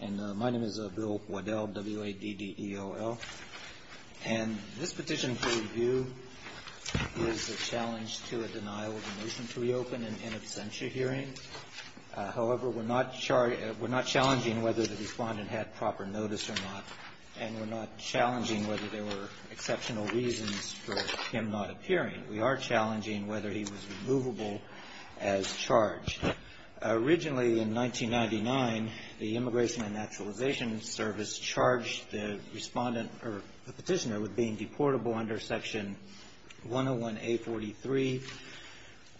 And my name is Bill Waddell, W-A-D-D-E-O-L. And this petition for review is a challenge to a denial of a motion to reopen in absentia hearing. However, we're not challenging whether the respondent had proper notice or not, and we're not challenging whether there were exceptional reasons for him not appearing. We are challenging whether he was removable as charged. Originally, in 1999, the Immigration and Naturalization Service charged the respondent or the petitioner with being deportable under Section 101-A43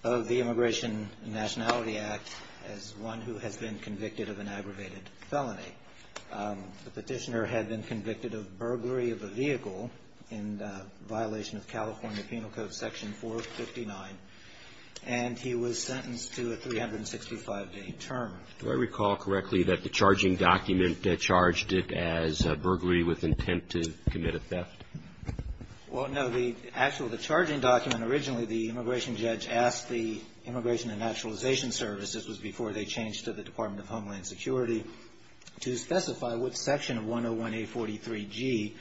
of the Immigration and Nationality Act as one who has been convicted of an aggravated felony. The petitioner had been convicted of burglary of a vehicle in violation of California Penal Code Section 459, and he was sentenced to a 365-day term. Do I recall correctly that the charging document charged it as burglary with intent to commit a theft? Well, no. The actual the charging document, originally the immigration judge asked the Immigration and Naturalization Service, this was before they changed to the Department of Homeland Security, to specify what section of 101-A43-G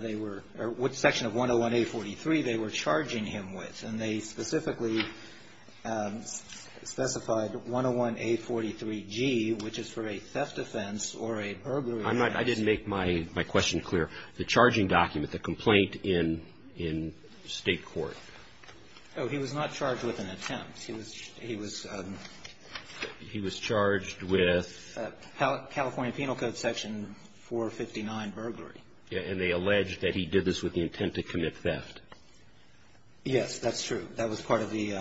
they were or what section of 101-A43 they were charging him with. And they specifically specified 101-A43-G, which is for a theft offense or a burglary offense. I didn't make my question clear. The charging document, the complaint in State court. Oh, he was not charged with an attempt. He was charged with California Penal Code Section 459, burglary. And they alleged that he did this with the intent to commit theft. Yes, that's true. That was part of the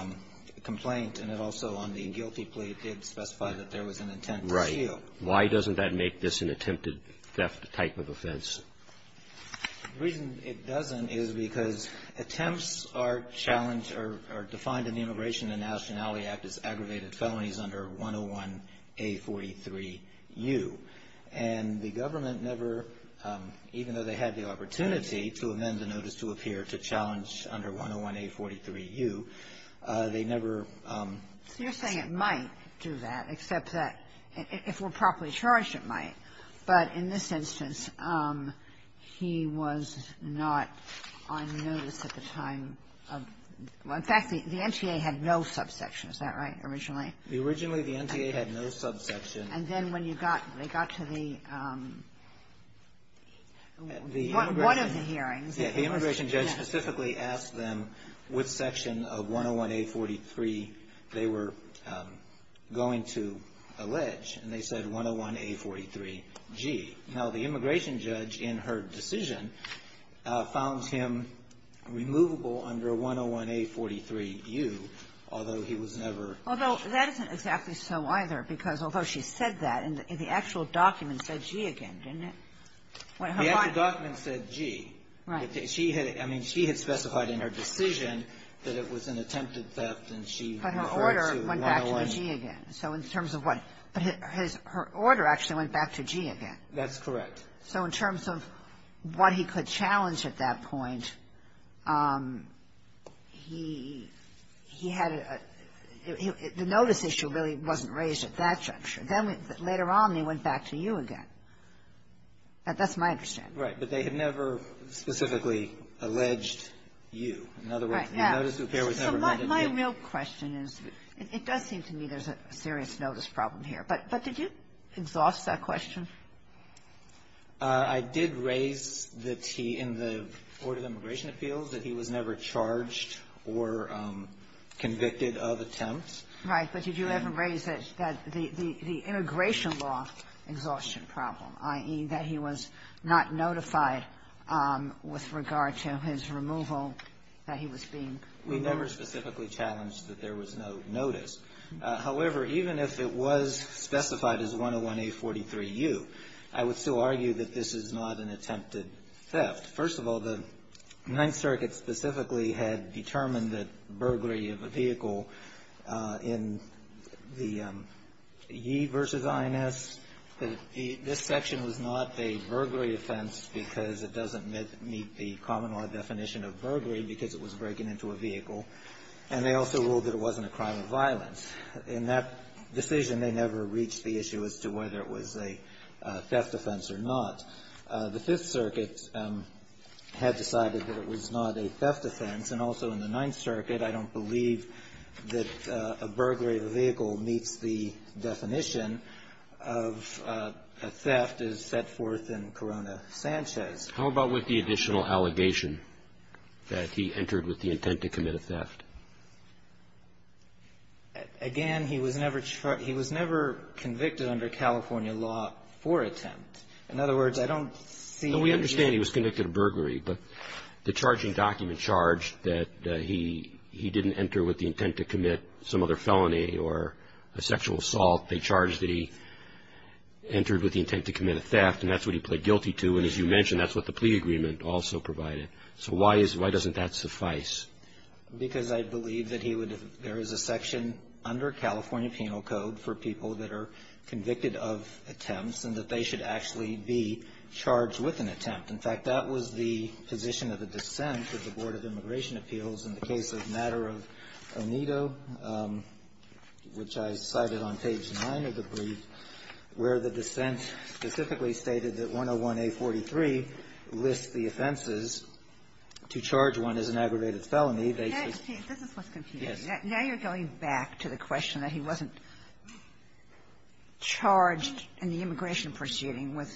complaint, and it also on the guilty plea did specify that there was an intent to steal. Right. Why doesn't that make this an attempted theft type of offense? The reason it doesn't is because attempts are challenged or defined in the Immigration and Nationality Act as aggravated felonies under 101-A43-U. And the government never, even though they had the opportunity to amend the notice to appear to challenge under 101-A43-U, they never ---- You're saying it might do that, except that if we're properly charged, it might. Right. But in this instance, he was not on notice at the time of ---- In fact, the NTA had no subsection. Is that right, originally? Originally, the NTA had no subsection. And then when they got to the ---- One of the hearings. The immigration judge specifically asked them which section of 101-A43 they were going to allege. And they said 101-A43-G. Now, the immigration judge, in her decision, found him removable under 101-A43-U, although he was never ---- Although that isn't exactly so, either, because although she said that, and the actual document said G again, didn't it? The actual document said G. Right. She had ---- I mean, she had specified in her decision that it was an attempted theft, and she referred to 101-A43-U. But her order actually went back to G again. That's correct. So in terms of what he could challenge at that point, he had a ---- the notice issue really wasn't raised at that juncture. Then later on, they went back to U again. That's my understanding. Right. But they had never specifically alleged U. In other words, the notice affair was never made in U. My real question is, it does seem to me there's a serious notice problem here. But did you exhaust that question? I did raise the T in the Order of Immigration Appeals, that he was never charged or convicted of attempts. Right. But did you ever raise that the immigration law exhaustion problem, i.e., that he was not notified with regard to his removal, that he was being removed? We never specifically challenged that there was no notice. However, even if it was specified as 101-A43-U, I would still argue that this is not an attempted theft. First of all, the Ninth Circuit specifically had determined that burglary of a vehicle in the Yee v. INS, that this section was not a burglary offense because it doesn't meet the common law definition of burglary because it was breaking into a vehicle. And they also ruled that it wasn't a crime of violence. In that decision, they never reached the issue as to whether it was a theft offense or not. The Fifth Circuit had decided that it was not a theft offense. And also in the Ninth Circuit, I don't believe that a burglary of a vehicle meets the definition of a theft as set forth in Corona-Sanchez. How about with the additional allegation that he entered with the intent to commit a theft? Again, he was never convicted under California law for attempt. In other words, I don't see any of that. No, we understand he was convicted of burglary. But the charging document charged that he didn't enter with the intent to commit some other felony or a sexual assault. They charged that he entered with the intent to commit a theft, and that's what he pled guilty to. And as you mentioned, that's what the plea agreement also provided. So why is why doesn't that suffice? Because I believe that he would have there is a section under California penal code for people that are convicted of attempts and that they should actually be charged with an attempt. In fact, that was the position of the dissent of the Board of Immigration Appeals in the case of Matter of Onedo, which I cited on page 9 of the brief, where the dissent specifically stated that 101A43 lists the offenses to charge one as an aggravated felony. This is what's confusing. Now you're going back to the question that he wasn't charged in the immigration proceeding with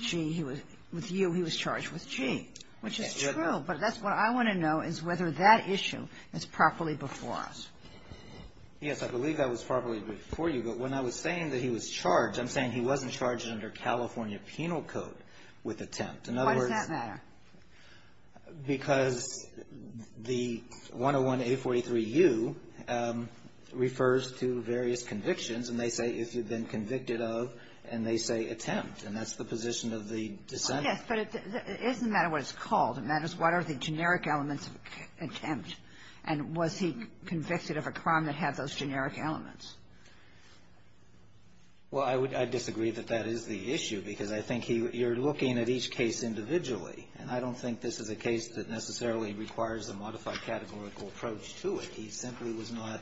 G. With U, he was charged with G, which is true. But that's what I want to know is whether that issue is properly before us. Yes, I believe that was properly before you. But when I was saying that he was charged, I'm saying he wasn't charged under California penal code with attempt. Why does that matter? Because the 101A43U refers to various convictions, and they say if you've been convicted of, and they say attempt. And that's the position of the dissent. Yes, but it doesn't matter what it's called. It matters what are the generic elements of attempt. And was he convicted of a crime that had those generic elements? Well, I disagree that that is the issue, because I think you're looking at each case individually. And I don't think this is a case that necessarily requires a modified categorical approach to it. He simply was not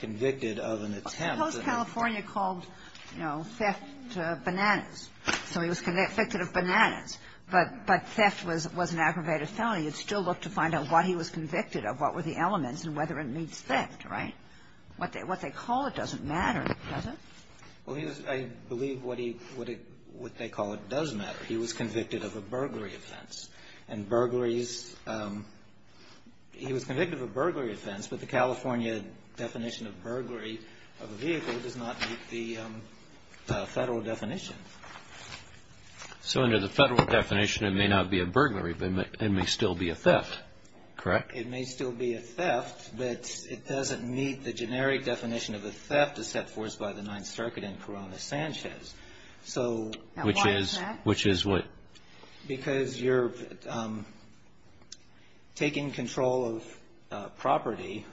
convicted of an attempt. Suppose California called, you know, theft bananas. So he was convicted of bananas. But theft was an aggravated felony. You'd still look to find out what he was convicted of, what were the elements, and whether it meets theft. Right? What they call it doesn't matter, does it? Well, I believe what they call it does matter. He was convicted of a burglary offense. And burglaries, he was convicted of a burglary offense, but the California definition of burglary of a vehicle does not meet the federal definition. So under the federal definition, it may not be a burglary, but it may still be a theft, correct? It may still be a theft, but it doesn't meet the generic definition of a theft as set forth by the Ninth Circuit in Corona-Sanchez. Which is what? Because you're taking control of property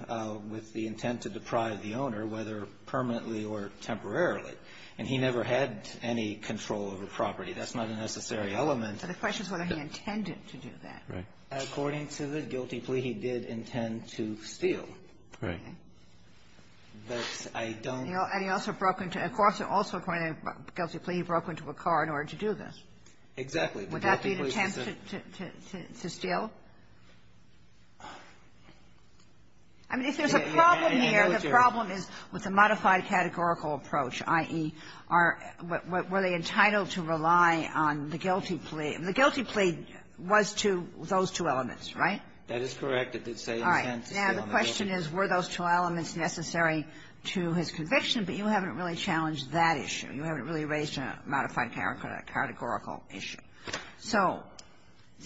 with the intent to deprive the owner, whether permanently or temporarily. And he never had any control over property. That's not a necessary element. But the question is whether he intended to do that. Right. According to the guilty plea, he did intend to steal. Right. But I don't know. And he also broke into – of course, also according to the guilty plea, he broke into a car in order to do this. Exactly. Would that be an attempt to steal? I mean, if there's a problem here, the problem is with the modified categorical approach, i.e., are – were they entitled to rely on the guilty plea? The guilty plea was to those two elements, right? That is correct. It did say intent to steal. All right. Now, the question is, were those two elements necessary to his conviction? But you haven't really challenged that issue. You haven't really raised a modified categorical issue. So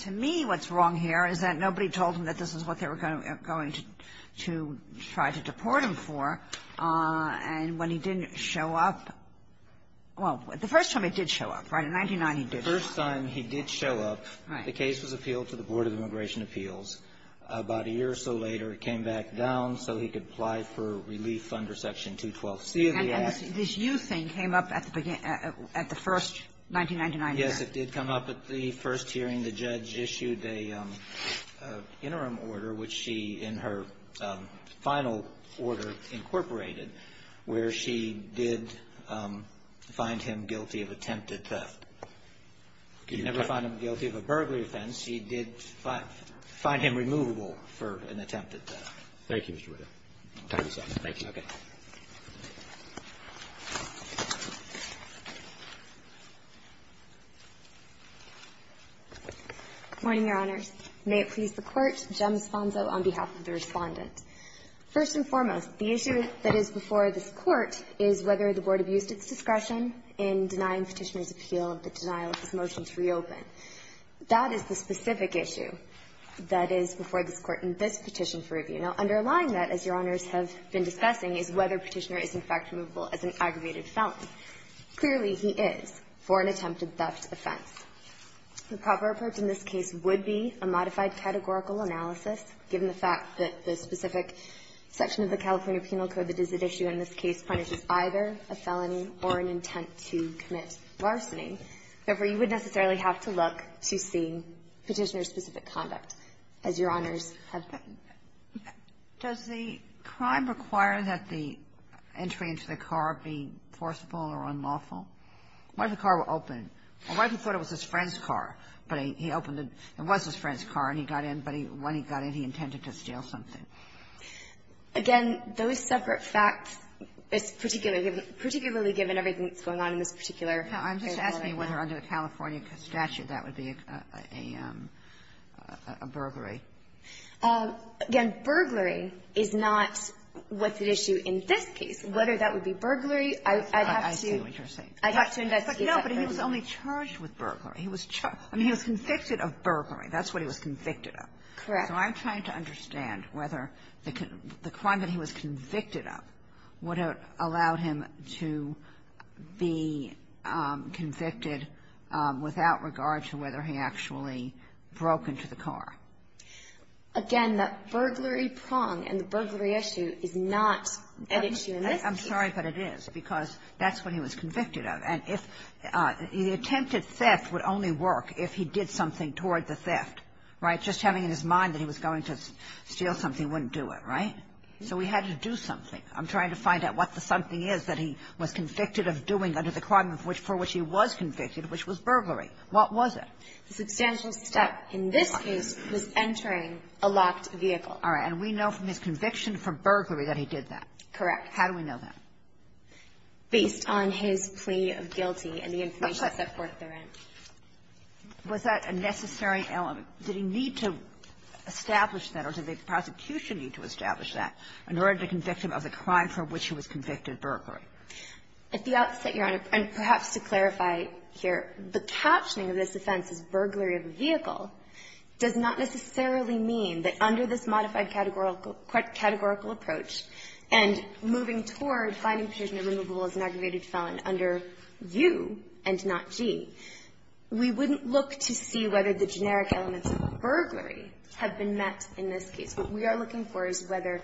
to me, what's wrong here is that nobody told him that this is what they were going to try to deport him for. And when he didn't show up – well, the first time he did show up, right? In 1999, he did show up. The first time he did show up, the case was appealed to the Board of Immigration Appeals. About a year or so later, it came back down so he could apply for relief under Section 212C of the Act. And this you thing came up at the beginning – at the first 1999 hearing. Yes. It did come up at the first hearing. The judge issued an interim order, which she, in her final order, incorporated, where she did find him guilty of attempted theft. She never found him guilty of a burglary offense. She did find him removable for an attempted theft. Thank you, Mr. Whittaker. Time is up. Thank you. Okay. Good morning, Your Honors. May it please the Court. Jem Sponzo on behalf of the Respondent. First and foremost, the issue that is before this Court is whether the Board abused its discretion in denying Petitioner's appeal of the denial of his motion to reopen. That is the specific issue that is before this Court in this petition for review. Now, underlying that, as Your Honors have been discussing, is whether Petitioner is, in fact, removable as an aggravated felony. Clearly, he is for an attempted theft offense. The proper approach in this case would be a modified categorical analysis, given the fact that the specific section of the California Penal Code that is at issue in this case punishes either a felony or an intent to commit larceny. Therefore, you would necessarily have to look to see Petitioner's specific conduct, as Your Honors have been. Does the crime require that the entry into the car be forcible or unlawful? What if the car were open? What if he thought it was his friend's car, but he opened it? It was his friend's car, and he got in, but when he got in, he intended to steal something? Again, those separate facts, particularly given everything that's going on in this particular case. Kagan. I'm just asking whether under the California statute that would be a burglary. Again, burglary is not what's at issue in this case. Whether that would be burglary, I'd have to – I see what you're saying. I'd have to investigate that. No, but he was only charged with burglary. He was – I mean, he was convicted of burglary. That's what he was convicted of. Correct. So I'm trying to understand whether the crime that he was convicted of would have allowed him to be convicted without regard to whether he actually broke into the car. Again, that burglary prong and the burglary issue is not at issue in this case. I'm sorry, but it is, because that's what he was convicted of. And if – the attempted theft would only work if he did something toward the theft, right? Just having in his mind that he was going to steal something wouldn't do it, right? So he had to do something. I'm trying to find out what the something is that he was convicted of doing under the crime of which – for which he was convicted, which was burglary. What was it? The substantial step in this case was entering a locked vehicle. All right. And we know from his conviction for burglary that he did that. Correct. How do we know that? Based on his plea of guilty and the information set forth therein. Was that a necessary element? Did he need to establish that, or did the prosecution need to establish that in order to convict him of the crime for which he was convicted, burglary? At the outset, Your Honor, and perhaps to clarify here, the captioning of this offense as burglary of a vehicle does not necessarily mean that under this modified categorical approach and moving toward finding prisoner removable as an aggravated felon under U and not G, we wouldn't look to see whether the generic elements of burglary have been met in this case. What we are looking for is whether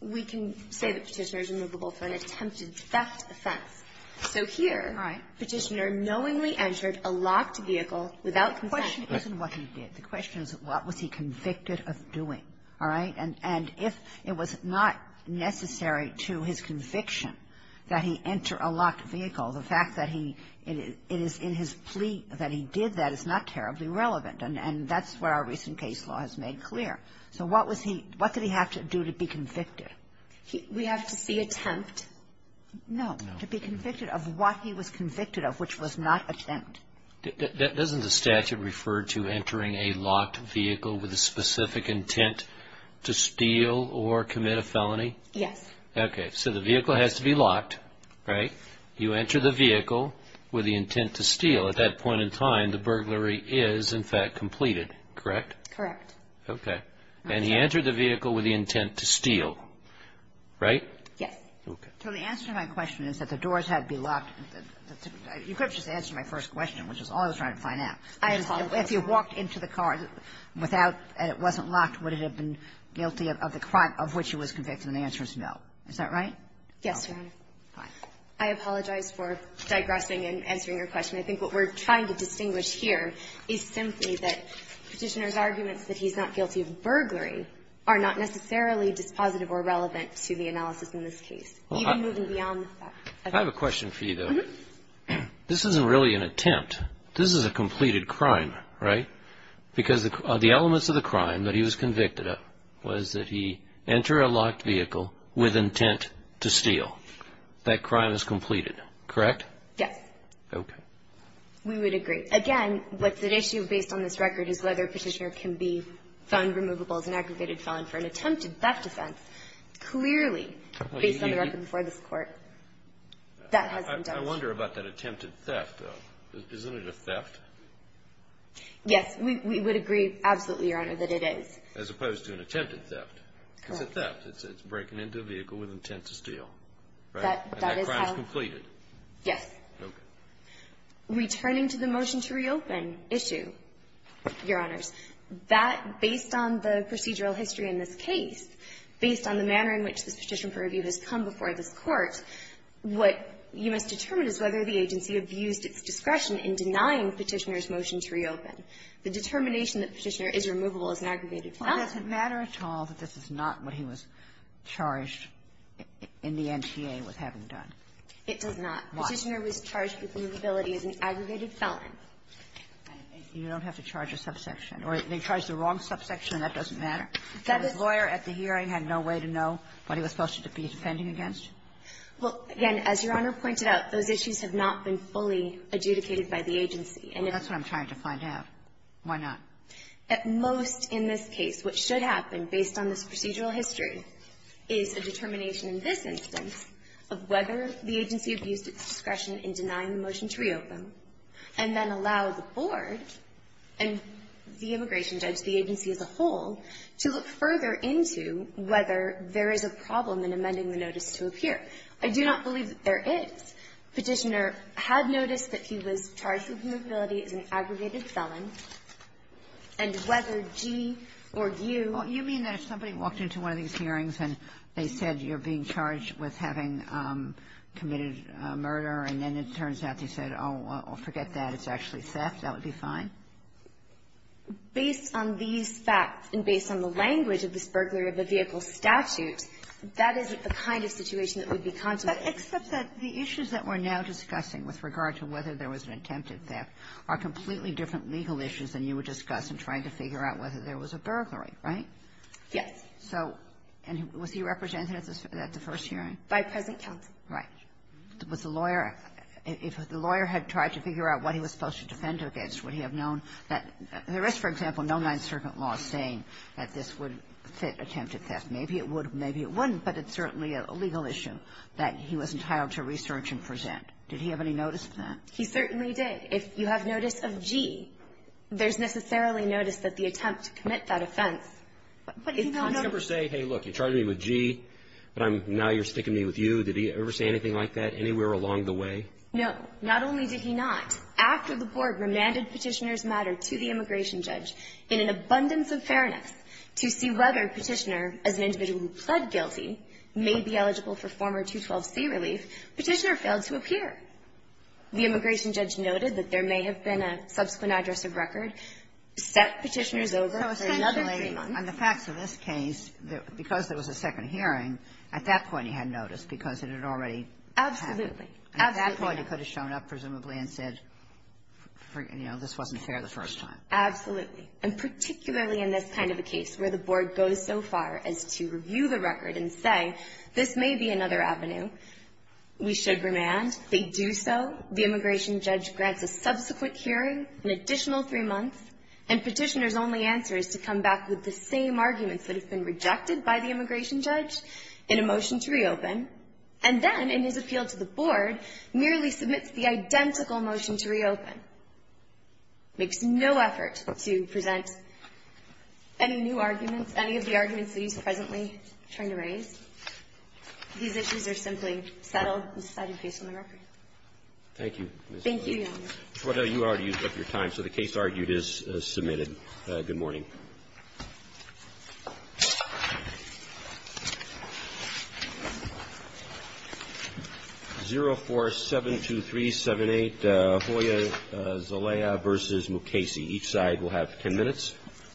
we can say that Petitioner is removable for an attempted theft offense. So here Petitioner knowingly entered a locked vehicle without consent. The question isn't what he did. The question is what was he convicted of doing. All right? And if it was not necessary to his conviction that he enter a locked vehicle, the fact that he – it is in his plea that he did that is not terribly relevant. And that's what our recent case law has made clear. So what was he – what did he have to do to be convicted? We have to see attempt. No. No. To be convicted of what he was convicted of, which was not attempt. Doesn't the statute refer to entering a locked vehicle with a specific intent to steal or commit a felony? Yes. Okay. So the vehicle has to be locked, right? You enter the vehicle with the intent to steal. At that point in time, the burglary is, in fact, completed, correct? Correct. Okay. And he entered the vehicle with the intent to steal, right? Yes. Okay. So the answer to my question is that the doors had to be locked. You could have just answered my first question, which is all I was trying to find out. If he walked into the car without – and it wasn't locked, would it have been guilty of the crime of which he was convicted? And the answer is no. Is that right? Yes, Your Honor. Fine. I apologize for digressing and answering your question. I think what we're trying to distinguish here is simply that Petitioner's arguments that he's not guilty of burglary are not necessarily dispositive or relevant to the analysis in this case, even moving beyond the fact. I have a question for you, though. Mm-hmm. This isn't really an attempt. This is a completed crime, right? Because the elements of the crime that he was convicted of was that he entered a locked vehicle with intent to steal. That crime is completed, correct? Yes. Okay. We would agree. Again, what's at issue based on this record is whether Petitioner can be found removable as an aggregated felon for an attempted theft offense. Clearly, based on the record before this Court, that hasn't done it. I wonder about that attempted theft, though. Isn't it a theft? Yes. We would agree absolutely, Your Honor, that it is. As opposed to an attempted theft. Correct. It's a theft. It's breaking into a vehicle with intent to steal, right? That is how – And that crime is completed. Yes. Okay. Returning to the motion to reopen issue, Your Honors, that, based on the procedural history in this case, based on the manner in which this petition for review has come before this Court, what you must determine is whether the agency abused its discretion in denying Petitioner's motion to reopen. The determination that Petitioner is removable as an aggregated felon. Well, does it matter at all that this is not what he was charged in the NTA with having done? It does not. Why? Petitioner was charged with removability as an aggregated felon. You don't have to charge a subsection. Or they charge the wrong subsection, and that doesn't matter? That is – The lawyer at the hearing had no way to know what he was supposed to be defending against? Well, again, as Your Honor pointed out, those issues have not been fully adjudicated by the agency. And if – Well, that's what I'm trying to find out. Why not? At most in this case, what should happen, based on this procedural history, is a determination in this instance of whether the agency abused its discretion in denying the motion to reopen, and then allow the board and the immigration judge, the agency as a whole, to look further into whether there is a problem in amending the notice to appear. I do not believe that there is. Petitioner had noticed that he was charged with removability as an aggregated felon, and whether G or U – You mean that if somebody walked into one of these hearings and they said you're being charged with having committed murder, and then it turns out they said, oh, forget that, it's actually theft, that would be fine? Based on these facts and based on the language of this burglary of the vehicle statute, that isn't the kind of situation that would be contemplated. But except that the issues that we're now discussing with regard to whether there was an attempted theft are completely different legal issues than you would discuss in trying to figure out whether there was a burglary, right? Yes. So – and was he represented at the first hearing? By present counsel. Right. Was the lawyer – if the lawyer had tried to figure out what he was supposed to defend against, would he have known that – there is, for example, no Ninth Circuit law saying that this would fit attempted theft. Maybe it would, maybe it wouldn't, but it's certainly a legal issue that he was entitled to research and present. Did he have any notice of that? He certainly did. If you have notice of G, there's necessarily notice that the attempt to commit that offense is possible. Did he ever say, hey, look, you charged me with G, but I'm – now you're sticking me with you? Did he ever say anything like that anywhere along the way? No. Not only did he not, after the board remanded Petitioner's matter to the immigration judge in an abundance of fairness to see whether Petitioner, as an individual who pled guilty, may be eligible for former 212c relief, Petitioner failed to appear. The immigration judge noted that there may have been a subsequent address of record, sent Petitioner's over for another three months. So essentially, on the facts of this case, because there was a second hearing, at that point he had notice because it had already happened. Absolutely. Absolutely. At that point, he could have shown up, presumably, and said, you know, this wasn't fair the first time. Absolutely. And particularly in this kind of a case where the board goes so far as to review the record and say, this may be another avenue, we should remand. They do so. The immigration judge grants a subsequent hearing, an additional three months, and Petitioner's only answer is to come back with the same arguments that have been rejected by the immigration judge in a motion to reopen, and then, in his appeal to the board, merely submits the identical motion to reopen. Makes no effort to present any new arguments, any of the arguments that he's presently trying to raise. These issues are simply settled and decided based on the record. Thank you. Thank you, Your Honor. Schweda, you already used up your time, so the case argued is submitted. Good morning. 0472378, Hoya, Zolea v. Mukasey. Each side will have 10 minutes.